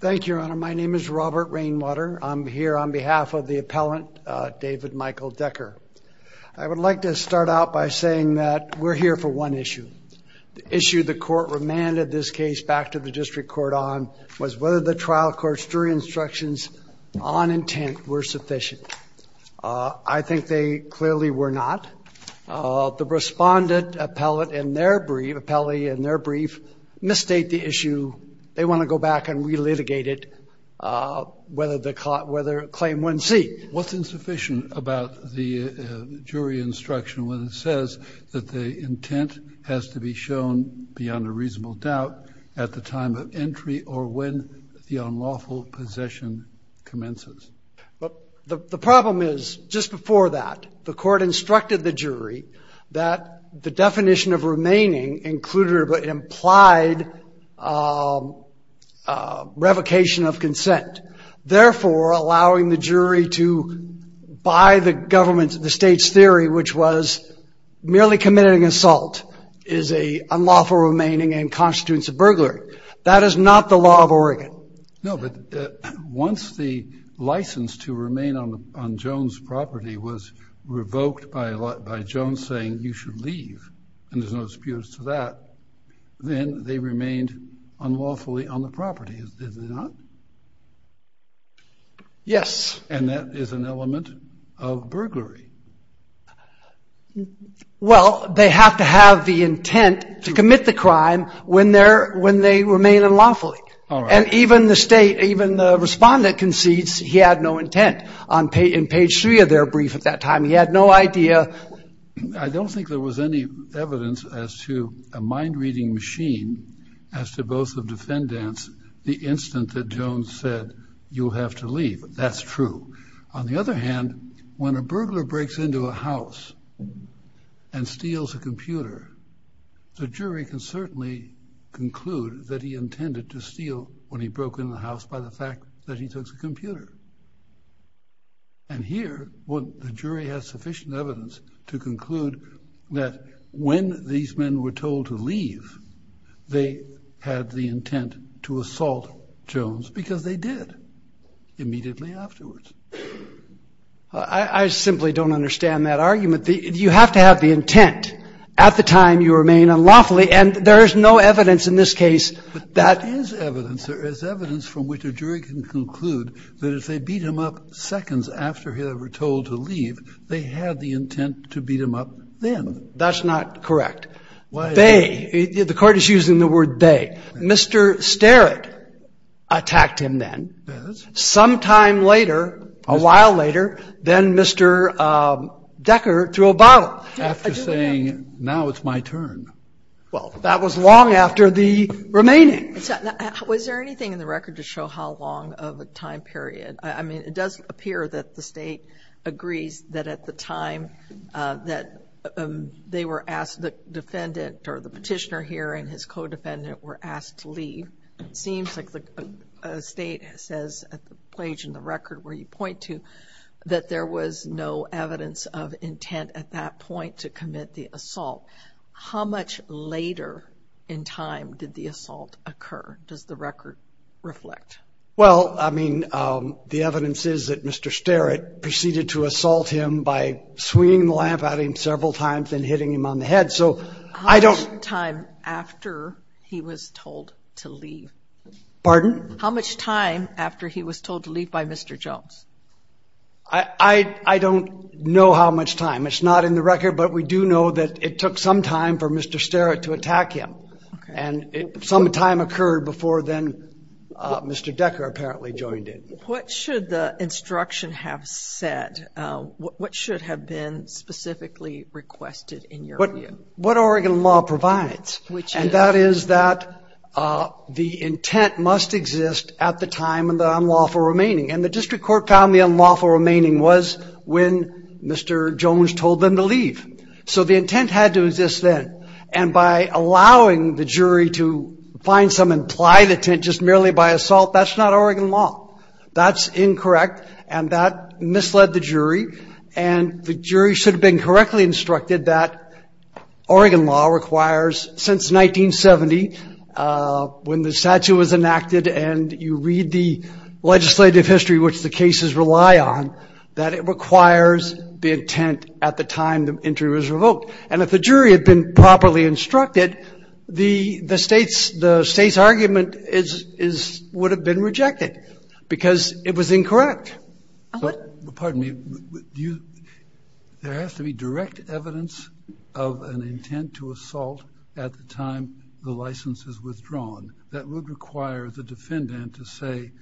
Thank you, Your Honor. My name is Robert Rainwater. I'm here on behalf of the appellant, David Michael Decker. I would like to start out by saying that we're here for one issue. The issue the court remanded this case back to the district court on was whether the trial court's jury instructions on intent were sufficient. I think they clearly were not. The respondent appellate in their brief, appellee in their brief, misstate the issue. They want to go back and re-litigate it whether claim 1c. What's insufficient about the jury instruction when it says that the intent has to be shown beyond a reasonable doubt at the time of entry or when the unlawful possession commences? The problem is, just before that, the court instructed the jury that the revocation of consent. Therefore, allowing the jury to buy the government, the state's theory, which was merely committing an assault is an unlawful remaining and constitutes a burglary. That is not the law of Oregon. No, but once the license to remain on Jones' property was revoked by Jones saying you should leave, and there's no disputes to that, then they remained unlawfully on the property. Is it not? Yes. And that is an element of burglary. Well, they have to have the intent to commit the crime when they remain unlawfully. And even the state, even the respondent concedes he had no intent. On page 3 of their brief at that time, he had no idea. I don't think there was any evidence as to a mind-reading machine as to both the defendants, the instant that Jones said you'll have to leave. That's true. On the other hand, when a burglar breaks into a house and steals a computer, the jury can certainly conclude that he intended to steal when he broke in the house by the fact that he took the computer. And here, what the jury has sufficient evidence to conclude that when these men were told to leave, they had the intent to assault Jones, because they did immediately afterwards. I simply don't understand that argument. You have to have the intent at the time you remain unlawfully, and there is no evidence in this case that... But that is evidence. There is evidence from which a jury can conclude that if they beat him up seconds after they were told to leave, they had the intent to beat him up then. That's not correct. They, the court is using the word they. Mr. Starrett attacked him then. Yes. Some time later, a while later, then Mr. Decker threw a bottle. After saying, now it's my turn. Well, that was long after the remaining. Was there anything in the record to show how long of a time period? I mean, it does appear that the state agrees that at the time that they were asked, the defendant or the petitioner here and his co-defendant were asked to leave. Seems like the state says at the page in the record where you point to that there was no evidence of intent at that point to commit the assault. How much later in time did the assault occur? Does the record reflect? Well, I mean, the evidence is that Mr. Starrett proceeded to assault him by swinging the lamp at him several times and hitting him on the head. So I don't... How much time after he was told to leave? Pardon? How much time after he was told to leave by Mr. Jones? I don't know how much time. It's not in the record, but we do know that it took some time for Mr. Starrett to attack him. And some time occurred before then Mr. Decker apparently joined in. What should the instruction have said? What should have been specifically requested in your view? What Oregon law provides, and that is that the intent must exist at the time of the unlawful remaining. And the district court found the unlawful remaining was when Mr. Jones told them to leave. So the intent had to exist then. And by allowing the jury to find some implied intent just merely by assault, that's not Oregon law. That's incorrect. And that misled the jury. And the jury should have been correctly instructed that Oregon law requires since 1970, when the statute was enacted and you read the legislative history which the cases rely on, that it requires the intent at the time the entry was revoked. And if the jury had been properly instructed, the state's argument would have been rejected because it was incorrect. Pardon me. Do you... There has to be direct evidence of an intent to assault at the time the license is withdrawn. That would require the defendant to say,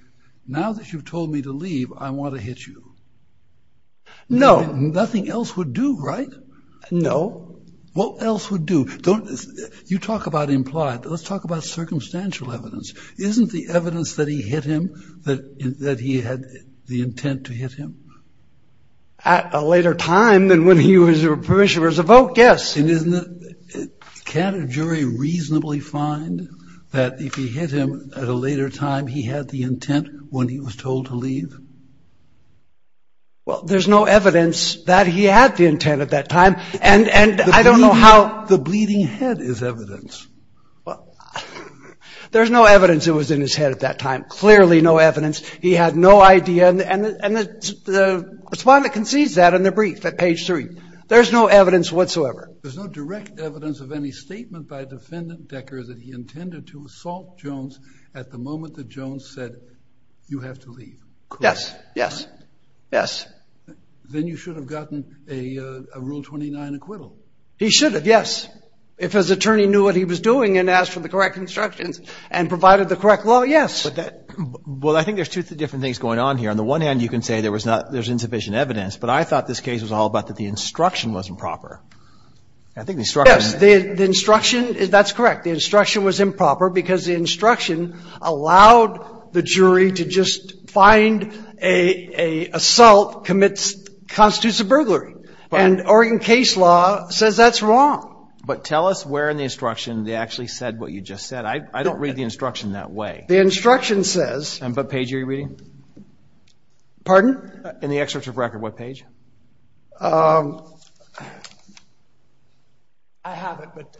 now that you've told me to leave, I want to hit you. No. Nothing else would do, right? No. What else would do? Don't... You talk about implied. Let's talk about circumstantial evidence. Isn't the evidence that he hit him that he had the intent to hit him? At a later time than when he was permission was revoked? Yes. Can't a jury reasonably find that if he hit him at a later time, he had the intent when he was told to leave? Well, there's no evidence that he had the intent at that time. And I don't know how... The bleeding head is evidence. There's no evidence it was in his head at that time. Clearly no evidence. He had no idea. And the respondent concedes that in their brief at page three. There's no evidence whatsoever. There's no direct evidence of any statement by Defendant Decker that he intended to assault Jones at the moment that Jones said, you have to leave. Yes. Yes. Yes. Then you should have gotten a Rule 29 acquittal. He should have. Yes. If his attorney knew what he was doing and asked for the correct instructions and provided the correct law. Yes. Well, I think there's two different things going on here. On the one hand, you can say there was not, there's insufficient evidence. But I thought this case was all about that the instruction wasn't proper. I think the instruction... Yes. The instruction, that's correct. The instruction was improper because the instruction allowed the jury to just find a assault commits constitutes a burglary. And Oregon case law says that's wrong. But tell us where in the instruction they actually said what you just said. I don't read the instruction that way. The instruction says... And what page are you reading? Pardon? In the excerpt of record, what page? I have it, but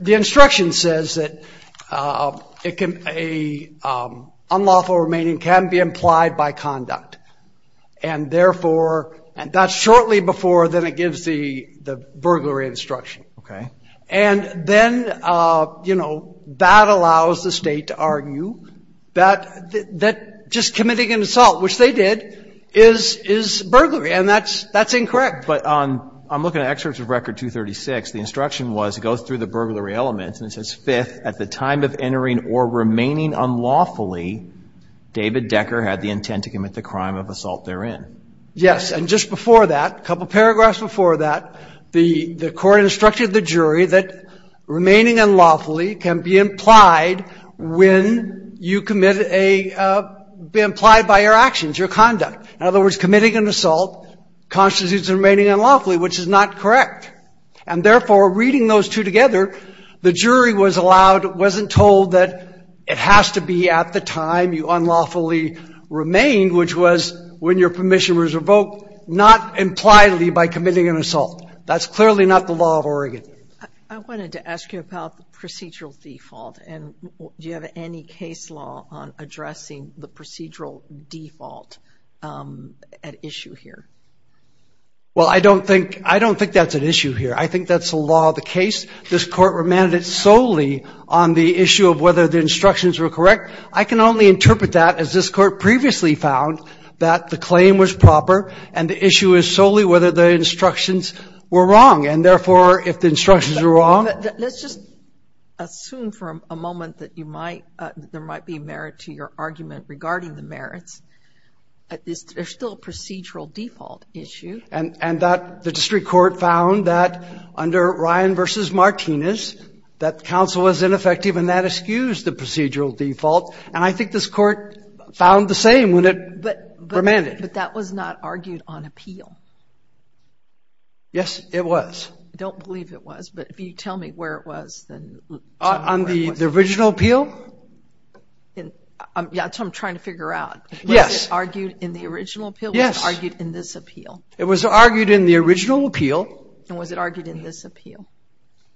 the instruction says that a unlawful remaining can be implied by conduct. And therefore, and that's shortly before then it gives the burglary instruction. Okay. And then, you know, that allows the State to argue that just committing an assault, which they did, is burglary. And that's incorrect. But on, I'm looking at excerpts of record 236, the instruction was it goes through the burglary elements and it says, fifth, at the time of entering or remaining unlawfully, David Decker had the intent to commit the crime of assault therein. Yes. And just before that, a couple paragraphs before that, the Court instructed the jury that remaining unlawfully can be implied when you commit a, be implied by your actions, your conduct. In other words, committing an assault constitutes remaining unlawfully, which is not correct. And therefore, reading those two together, the jury was allowed, wasn't told that it has to be at the time you unlawfully remained, which was when your permission was revoked, not impliedly by committing an assault. That's clearly not the law of Oregon. I wanted to ask you about the procedural default. And do you have any case law on addressing the procedural default at issue here? Well, I don't think, I don't think that's an issue here. I think that's the law of the case. This Court remanded solely on the issue of whether the instructions were correct. I can only interpret that as this Court previously found that the claim was proper and the issue is solely whether the instructions were wrong. And therefore, if the instructions were wrong. Let's just assume for a moment that you might, there might be merit to your argument regarding the merits. There's still a procedural default issue. And that the district court found that under Ryan v. Martinez, that counsel was ineffective and that eschews the procedural default. And I think this Court found the same when it remanded. But that was not argued on appeal. Yes, it was. I don't believe it was. But if you tell me where it was. On the original appeal? Yeah, that's what I'm trying to figure out. Yes. Argued in the original appeal? Yes. Argued in this appeal? It was argued in the original appeal. And was it argued in this appeal?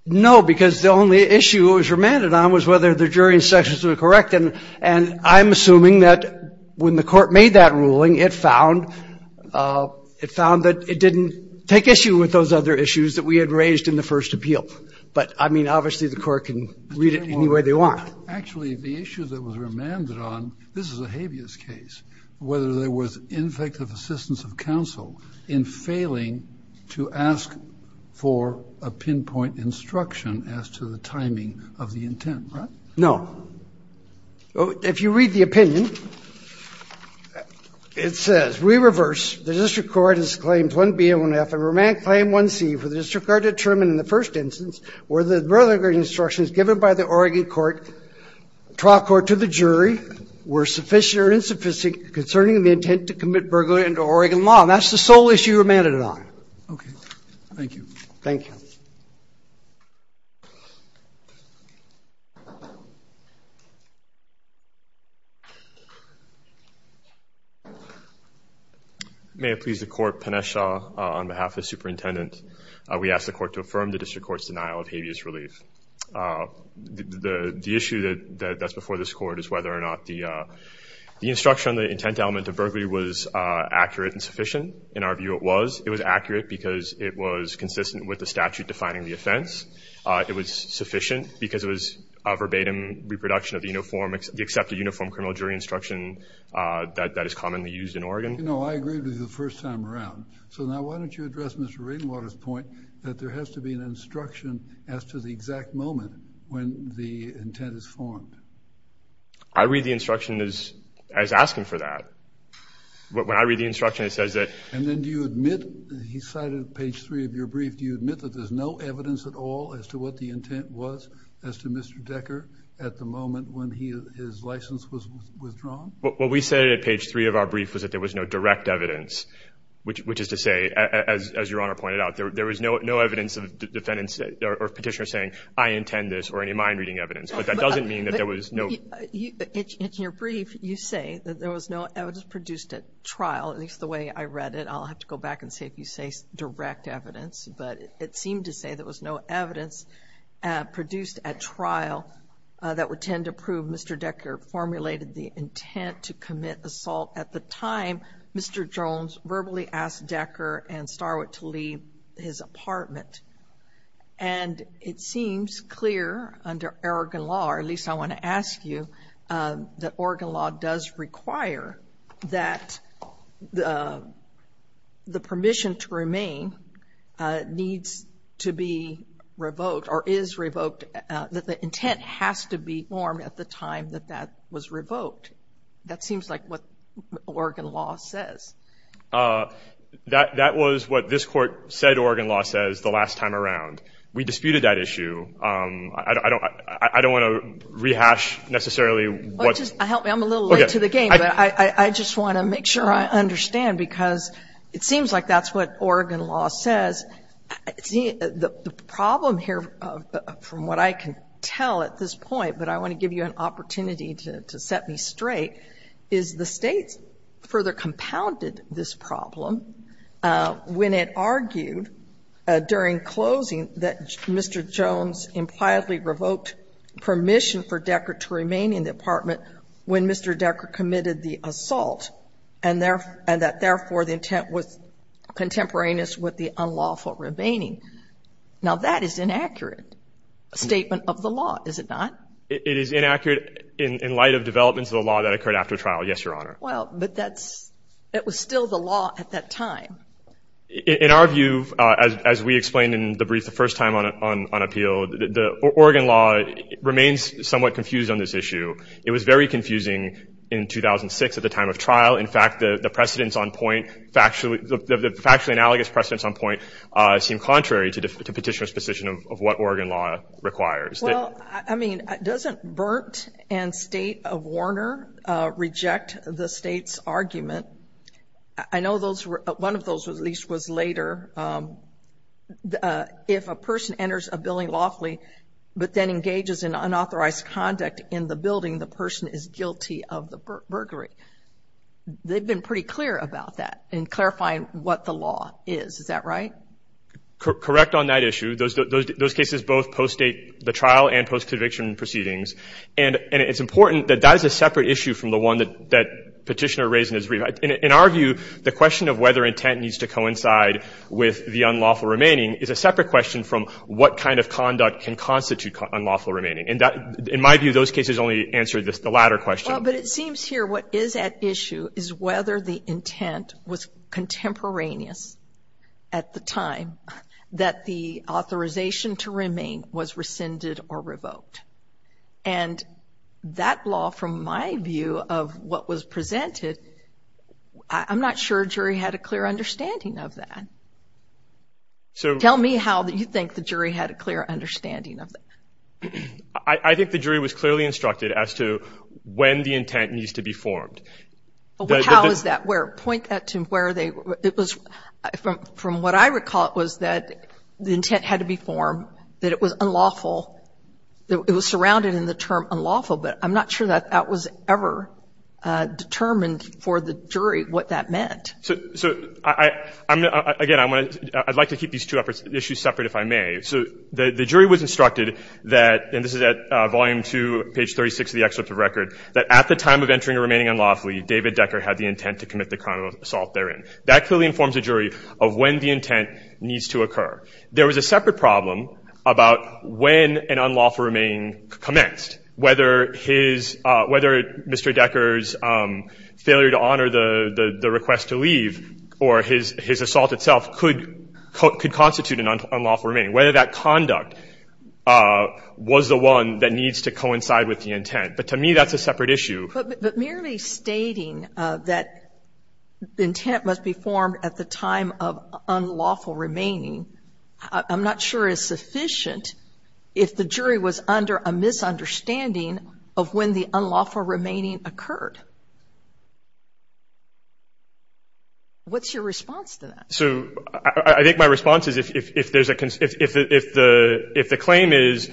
No, because the only issue it was remanded on was whether the jury instructions were correct. And I'm assuming that when the Court made that ruling, it found that it didn't take issue with those other issues that we had raised in the first appeal. But, I mean, obviously, the Court can read it any way they want. Actually, the issue that was remanded on, this is a habeas case, whether there was ineffective assistance of counsel in failing to ask for a pinpoint instruction as to the timing of the intent. No. Well, if you read the opinion, it says, re-reverse, the District Court has claimed 1B and 1F, and remanded claim 1C for the District Court to determine in the first instance whether the further instructions given by the Oregon trial court to the jury were sufficient or insufficient concerning the intent to commit burglary under Oregon law. And that's the sole issue remanded on. OK. Thank you. Thank you. Thank you. May it please the Court, Panesh Shah on behalf of the Superintendent, we ask the Court to affirm the District Court's denial of habeas relief. The issue that's before this Court is whether or not the instruction on the intent element of burglary was accurate and sufficient. In our view, it was. It was accurate because it was consistent with the statute defining the offense. It was sufficient because it was a verbatim reproduction of the accepted uniform criminal jury instruction that is commonly used in Oregon. You know, I agreed with you the first time around. So now, why don't you address Mr. Radenwater's point that there has to be an instruction as to the exact moment when the intent is formed? I read the instruction as asking for that. When I read the instruction, it says that. And then do you admit, he cited page three of your brief, do you admit that there's no evidence at all as to what the intent was as to Mr. Decker at the moment when his license was withdrawn? What we said at page three of our brief was that there was no direct evidence, which is to say, as your Honor pointed out, there was no evidence of the defendant or petitioner saying, I intend this or any of my reading evidence. But that doesn't mean that there was no. In your brief, you say that there was no evidence produced at trial, at least the way I read it. I'll have to go back and see if you say direct evidence. But it seemed to say there was no evidence produced at trial that would tend to prove Mr. Decker formulated the intent to commit assault at the time Mr. Jones verbally asked Decker and Starwood to leave his apartment. And it seems clear under Oregon law, or at least I want to ask you, that Oregon law does require that the permission to remain needs to be revoked or is revoked, that the intent has to be formed at the time that that was revoked. That seems like what Oregon law says. That was what this Court said Oregon law says the last time around. We disputed that issue. I don't want to rehash necessarily what's... I'm a little late to the game, but I just want to make sure I understand, because it seems like that's what Oregon law says. The problem here, from what I can tell at this point, but I want to give you an opportunity to set me straight, is the States further compounded this problem when it argued during closing that Mr. Jones impliedly revoked permission for Decker to remain in the apartment when Mr. Decker committed the assault, and that therefore the intent was contemporaneous with the unlawful remaining. Now that is an inaccurate statement of the law, is it not? It is inaccurate in light of developments of the law that occurred after trial, yes, Your Honor. Well, but that was still the law at that time. In our view, as we explained in the brief the first time on appeal, the Oregon law remains somewhat confused on this issue. It was very confusing in 2006 at the time of trial. In fact, the precedents on point, the factually analogous precedents on point seem contrary to petitioner's position of what Oregon law requires. Well, I mean, doesn't Berndt and State of Warner reject the State's argument? I know one of those, at least, was later. If a person enters a building lawfully but then engages in unauthorized conduct in the building, the person is guilty of the burglary. They've been pretty clear about that in clarifying what the law is. Is that right? Correct on that issue. Those cases both post-date the trial and post-conviction proceedings. And it's important that that is a separate issue from the one that petitioner raised in his brief. In our view, the question of whether intent needs to coincide with the unlawful remaining is a separate question from what kind of conduct can constitute unlawful remaining. And in my view, those cases only answer the latter question. But it seems here what is at issue is whether the intent was contemporaneous at the time that the authorization to remain was rescinded or revoked. And that law, from my view of what was presented, I'm not sure a jury had a clear understanding of that. Tell me how you think the jury had a clear understanding of that. I think the jury was clearly instructed as to when the intent needs to be formed. How is that? Where? Point that to where they were. It was from what I recall, it was that the intent had to be formed, that it was unlawful, it was surrounded in the term unlawful. But I'm not sure that that was ever determined for the jury what that meant. So, again, I'd like to keep these two issues separate, if I may. So the jury was instructed that, and this is at volume 2, page 36 of the excerpt of the record, that at the time of entering or remaining unlawfully, David Decker had the intent to commit the crime of assault therein. That clearly informs the jury of when the intent needs to occur. There was a separate problem about when an unlawful remaining commenced, whether Mr. Decker's failure to honor the request to leave or his assault itself could constitute an unlawful remaining, whether that conduct was the one that needs to coincide with the intent. But to me, that's a separate issue. But merely stating that the intent must be formed at the time of unlawful remaining, I'm not sure is sufficient if the jury was under a misunderstanding of when the unlawful remaining occurred. What's your response to that? So I think my response is, if the claim is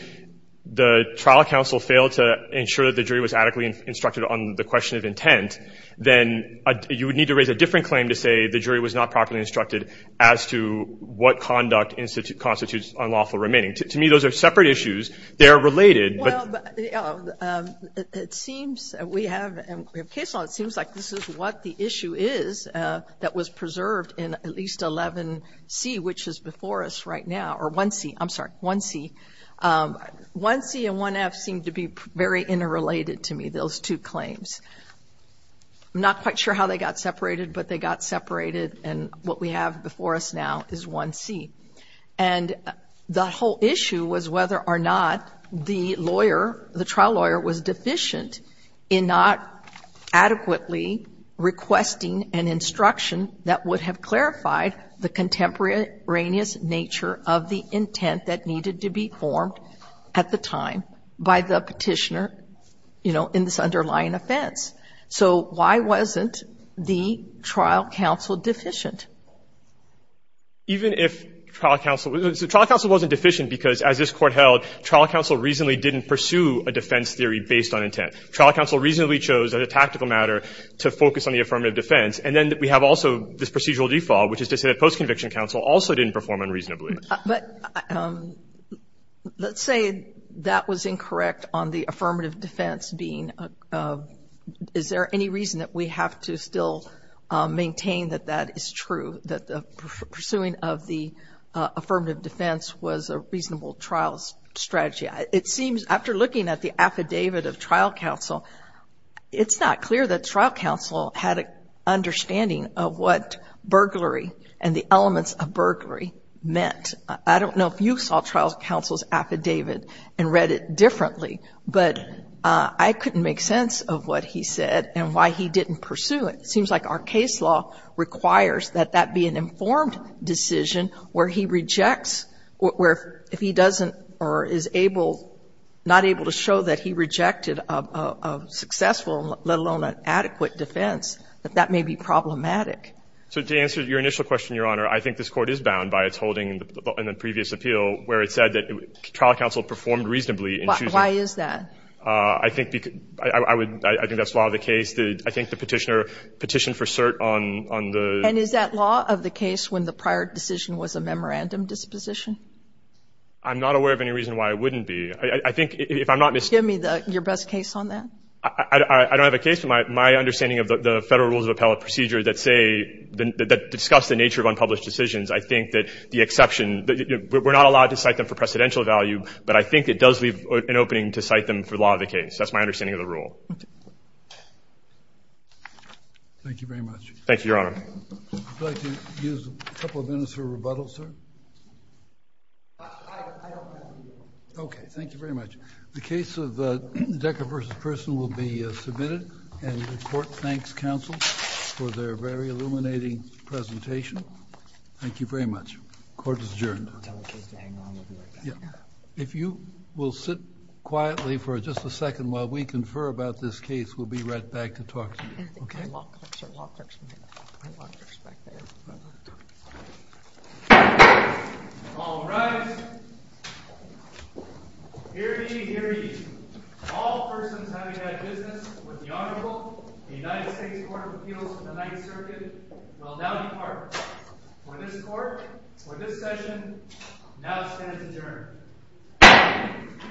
the trial counsel failed to ensure that the unlawful remaining occurred on the question of intent, then you would need to raise a different claim to say the jury was not properly instructed as to what conduct constitutes unlawful remaining. To me, those are separate issues. They're related. Well, it seems we have, and we have case law, it seems like this is what the issue is that was preserved in at least 11C, which is before us right now, or 1C, I'm sorry, 1C. 1C and 1F seem to be very interrelated to me, those two claims. I'm not quite sure how they got separated, but they got separated, and what we have before us now is 1C. And the whole issue was whether or not the lawyer, the trial lawyer was deficient in not adequately requesting an instruction that would have clarified the contemporaneous nature of the intent that needed to be formed at the time by the petitioner, you know, in this underlying offense. So why wasn't the trial counsel deficient? Even if trial counsel, the trial counsel wasn't deficient because, as this Court held, trial counsel reasonably didn't pursue a defense theory based on intent. Trial counsel reasonably chose, as a tactical matter, to focus on the affirmative defense, and then we have also this procedural default, which is to say that post-conviction counsel also didn't perform unreasonably. But let's say that was incorrect on the affirmative defense being, is there any reason that we have to still maintain that that is true, that the pursuing of the affirmative defense was a reasonable trial strategy? It seems, after looking at the affidavit of trial counsel, it's not clear that trial counsel had an understanding of what burglary and the elements of burglary meant. I don't know if you saw trial counsel's affidavit and read it differently, but I couldn't make sense of what he said and why he didn't pursue it. It seems like our case law requires that that be an informed decision where he rejects, where if he doesn't or is able, not able to show that he rejected a successful, let alone an adequate defense, that that may be problematic. So to answer your initial question, Your Honor, I think this Court is bound by its holding in the previous appeal where it said that trial counsel performed reasonably in choosing. Why is that? I think that's law of the case. I think the Petitioner petitioned for cert on the ---- And is that law of the case when the prior decision was a memorandum disposition? I'm not aware of any reason why it wouldn't be. I think if I'm not mistaken ---- Give me your best case on that. I don't have a case, but my understanding of the Federal Rules of Appellate procedure that say, that discuss the nature of unpublished decisions, I think that the exception, we're not allowed to cite them for precedential value, but I think it does leave an opening to cite them for law of the case. That's my understanding of the rule. Thank you very much. Thank you, Your Honor. I'd like to use a couple of minutes for rebuttal, sir. Okay. Thank you very much. The case of Decker v. Person will be submitted, and the Court thanks counsel for their very illuminating presentation. Thank you very much. Court is adjourned. If you will sit quietly for just a second while we confer about this case, we'll be right back to talk to you. Okay? All rise. Here be, here be, all persons having had business with the Honorable United States Court of Appeals of the Ninth Circuit, will now depart. For this Court, for this session, now stands adjourned.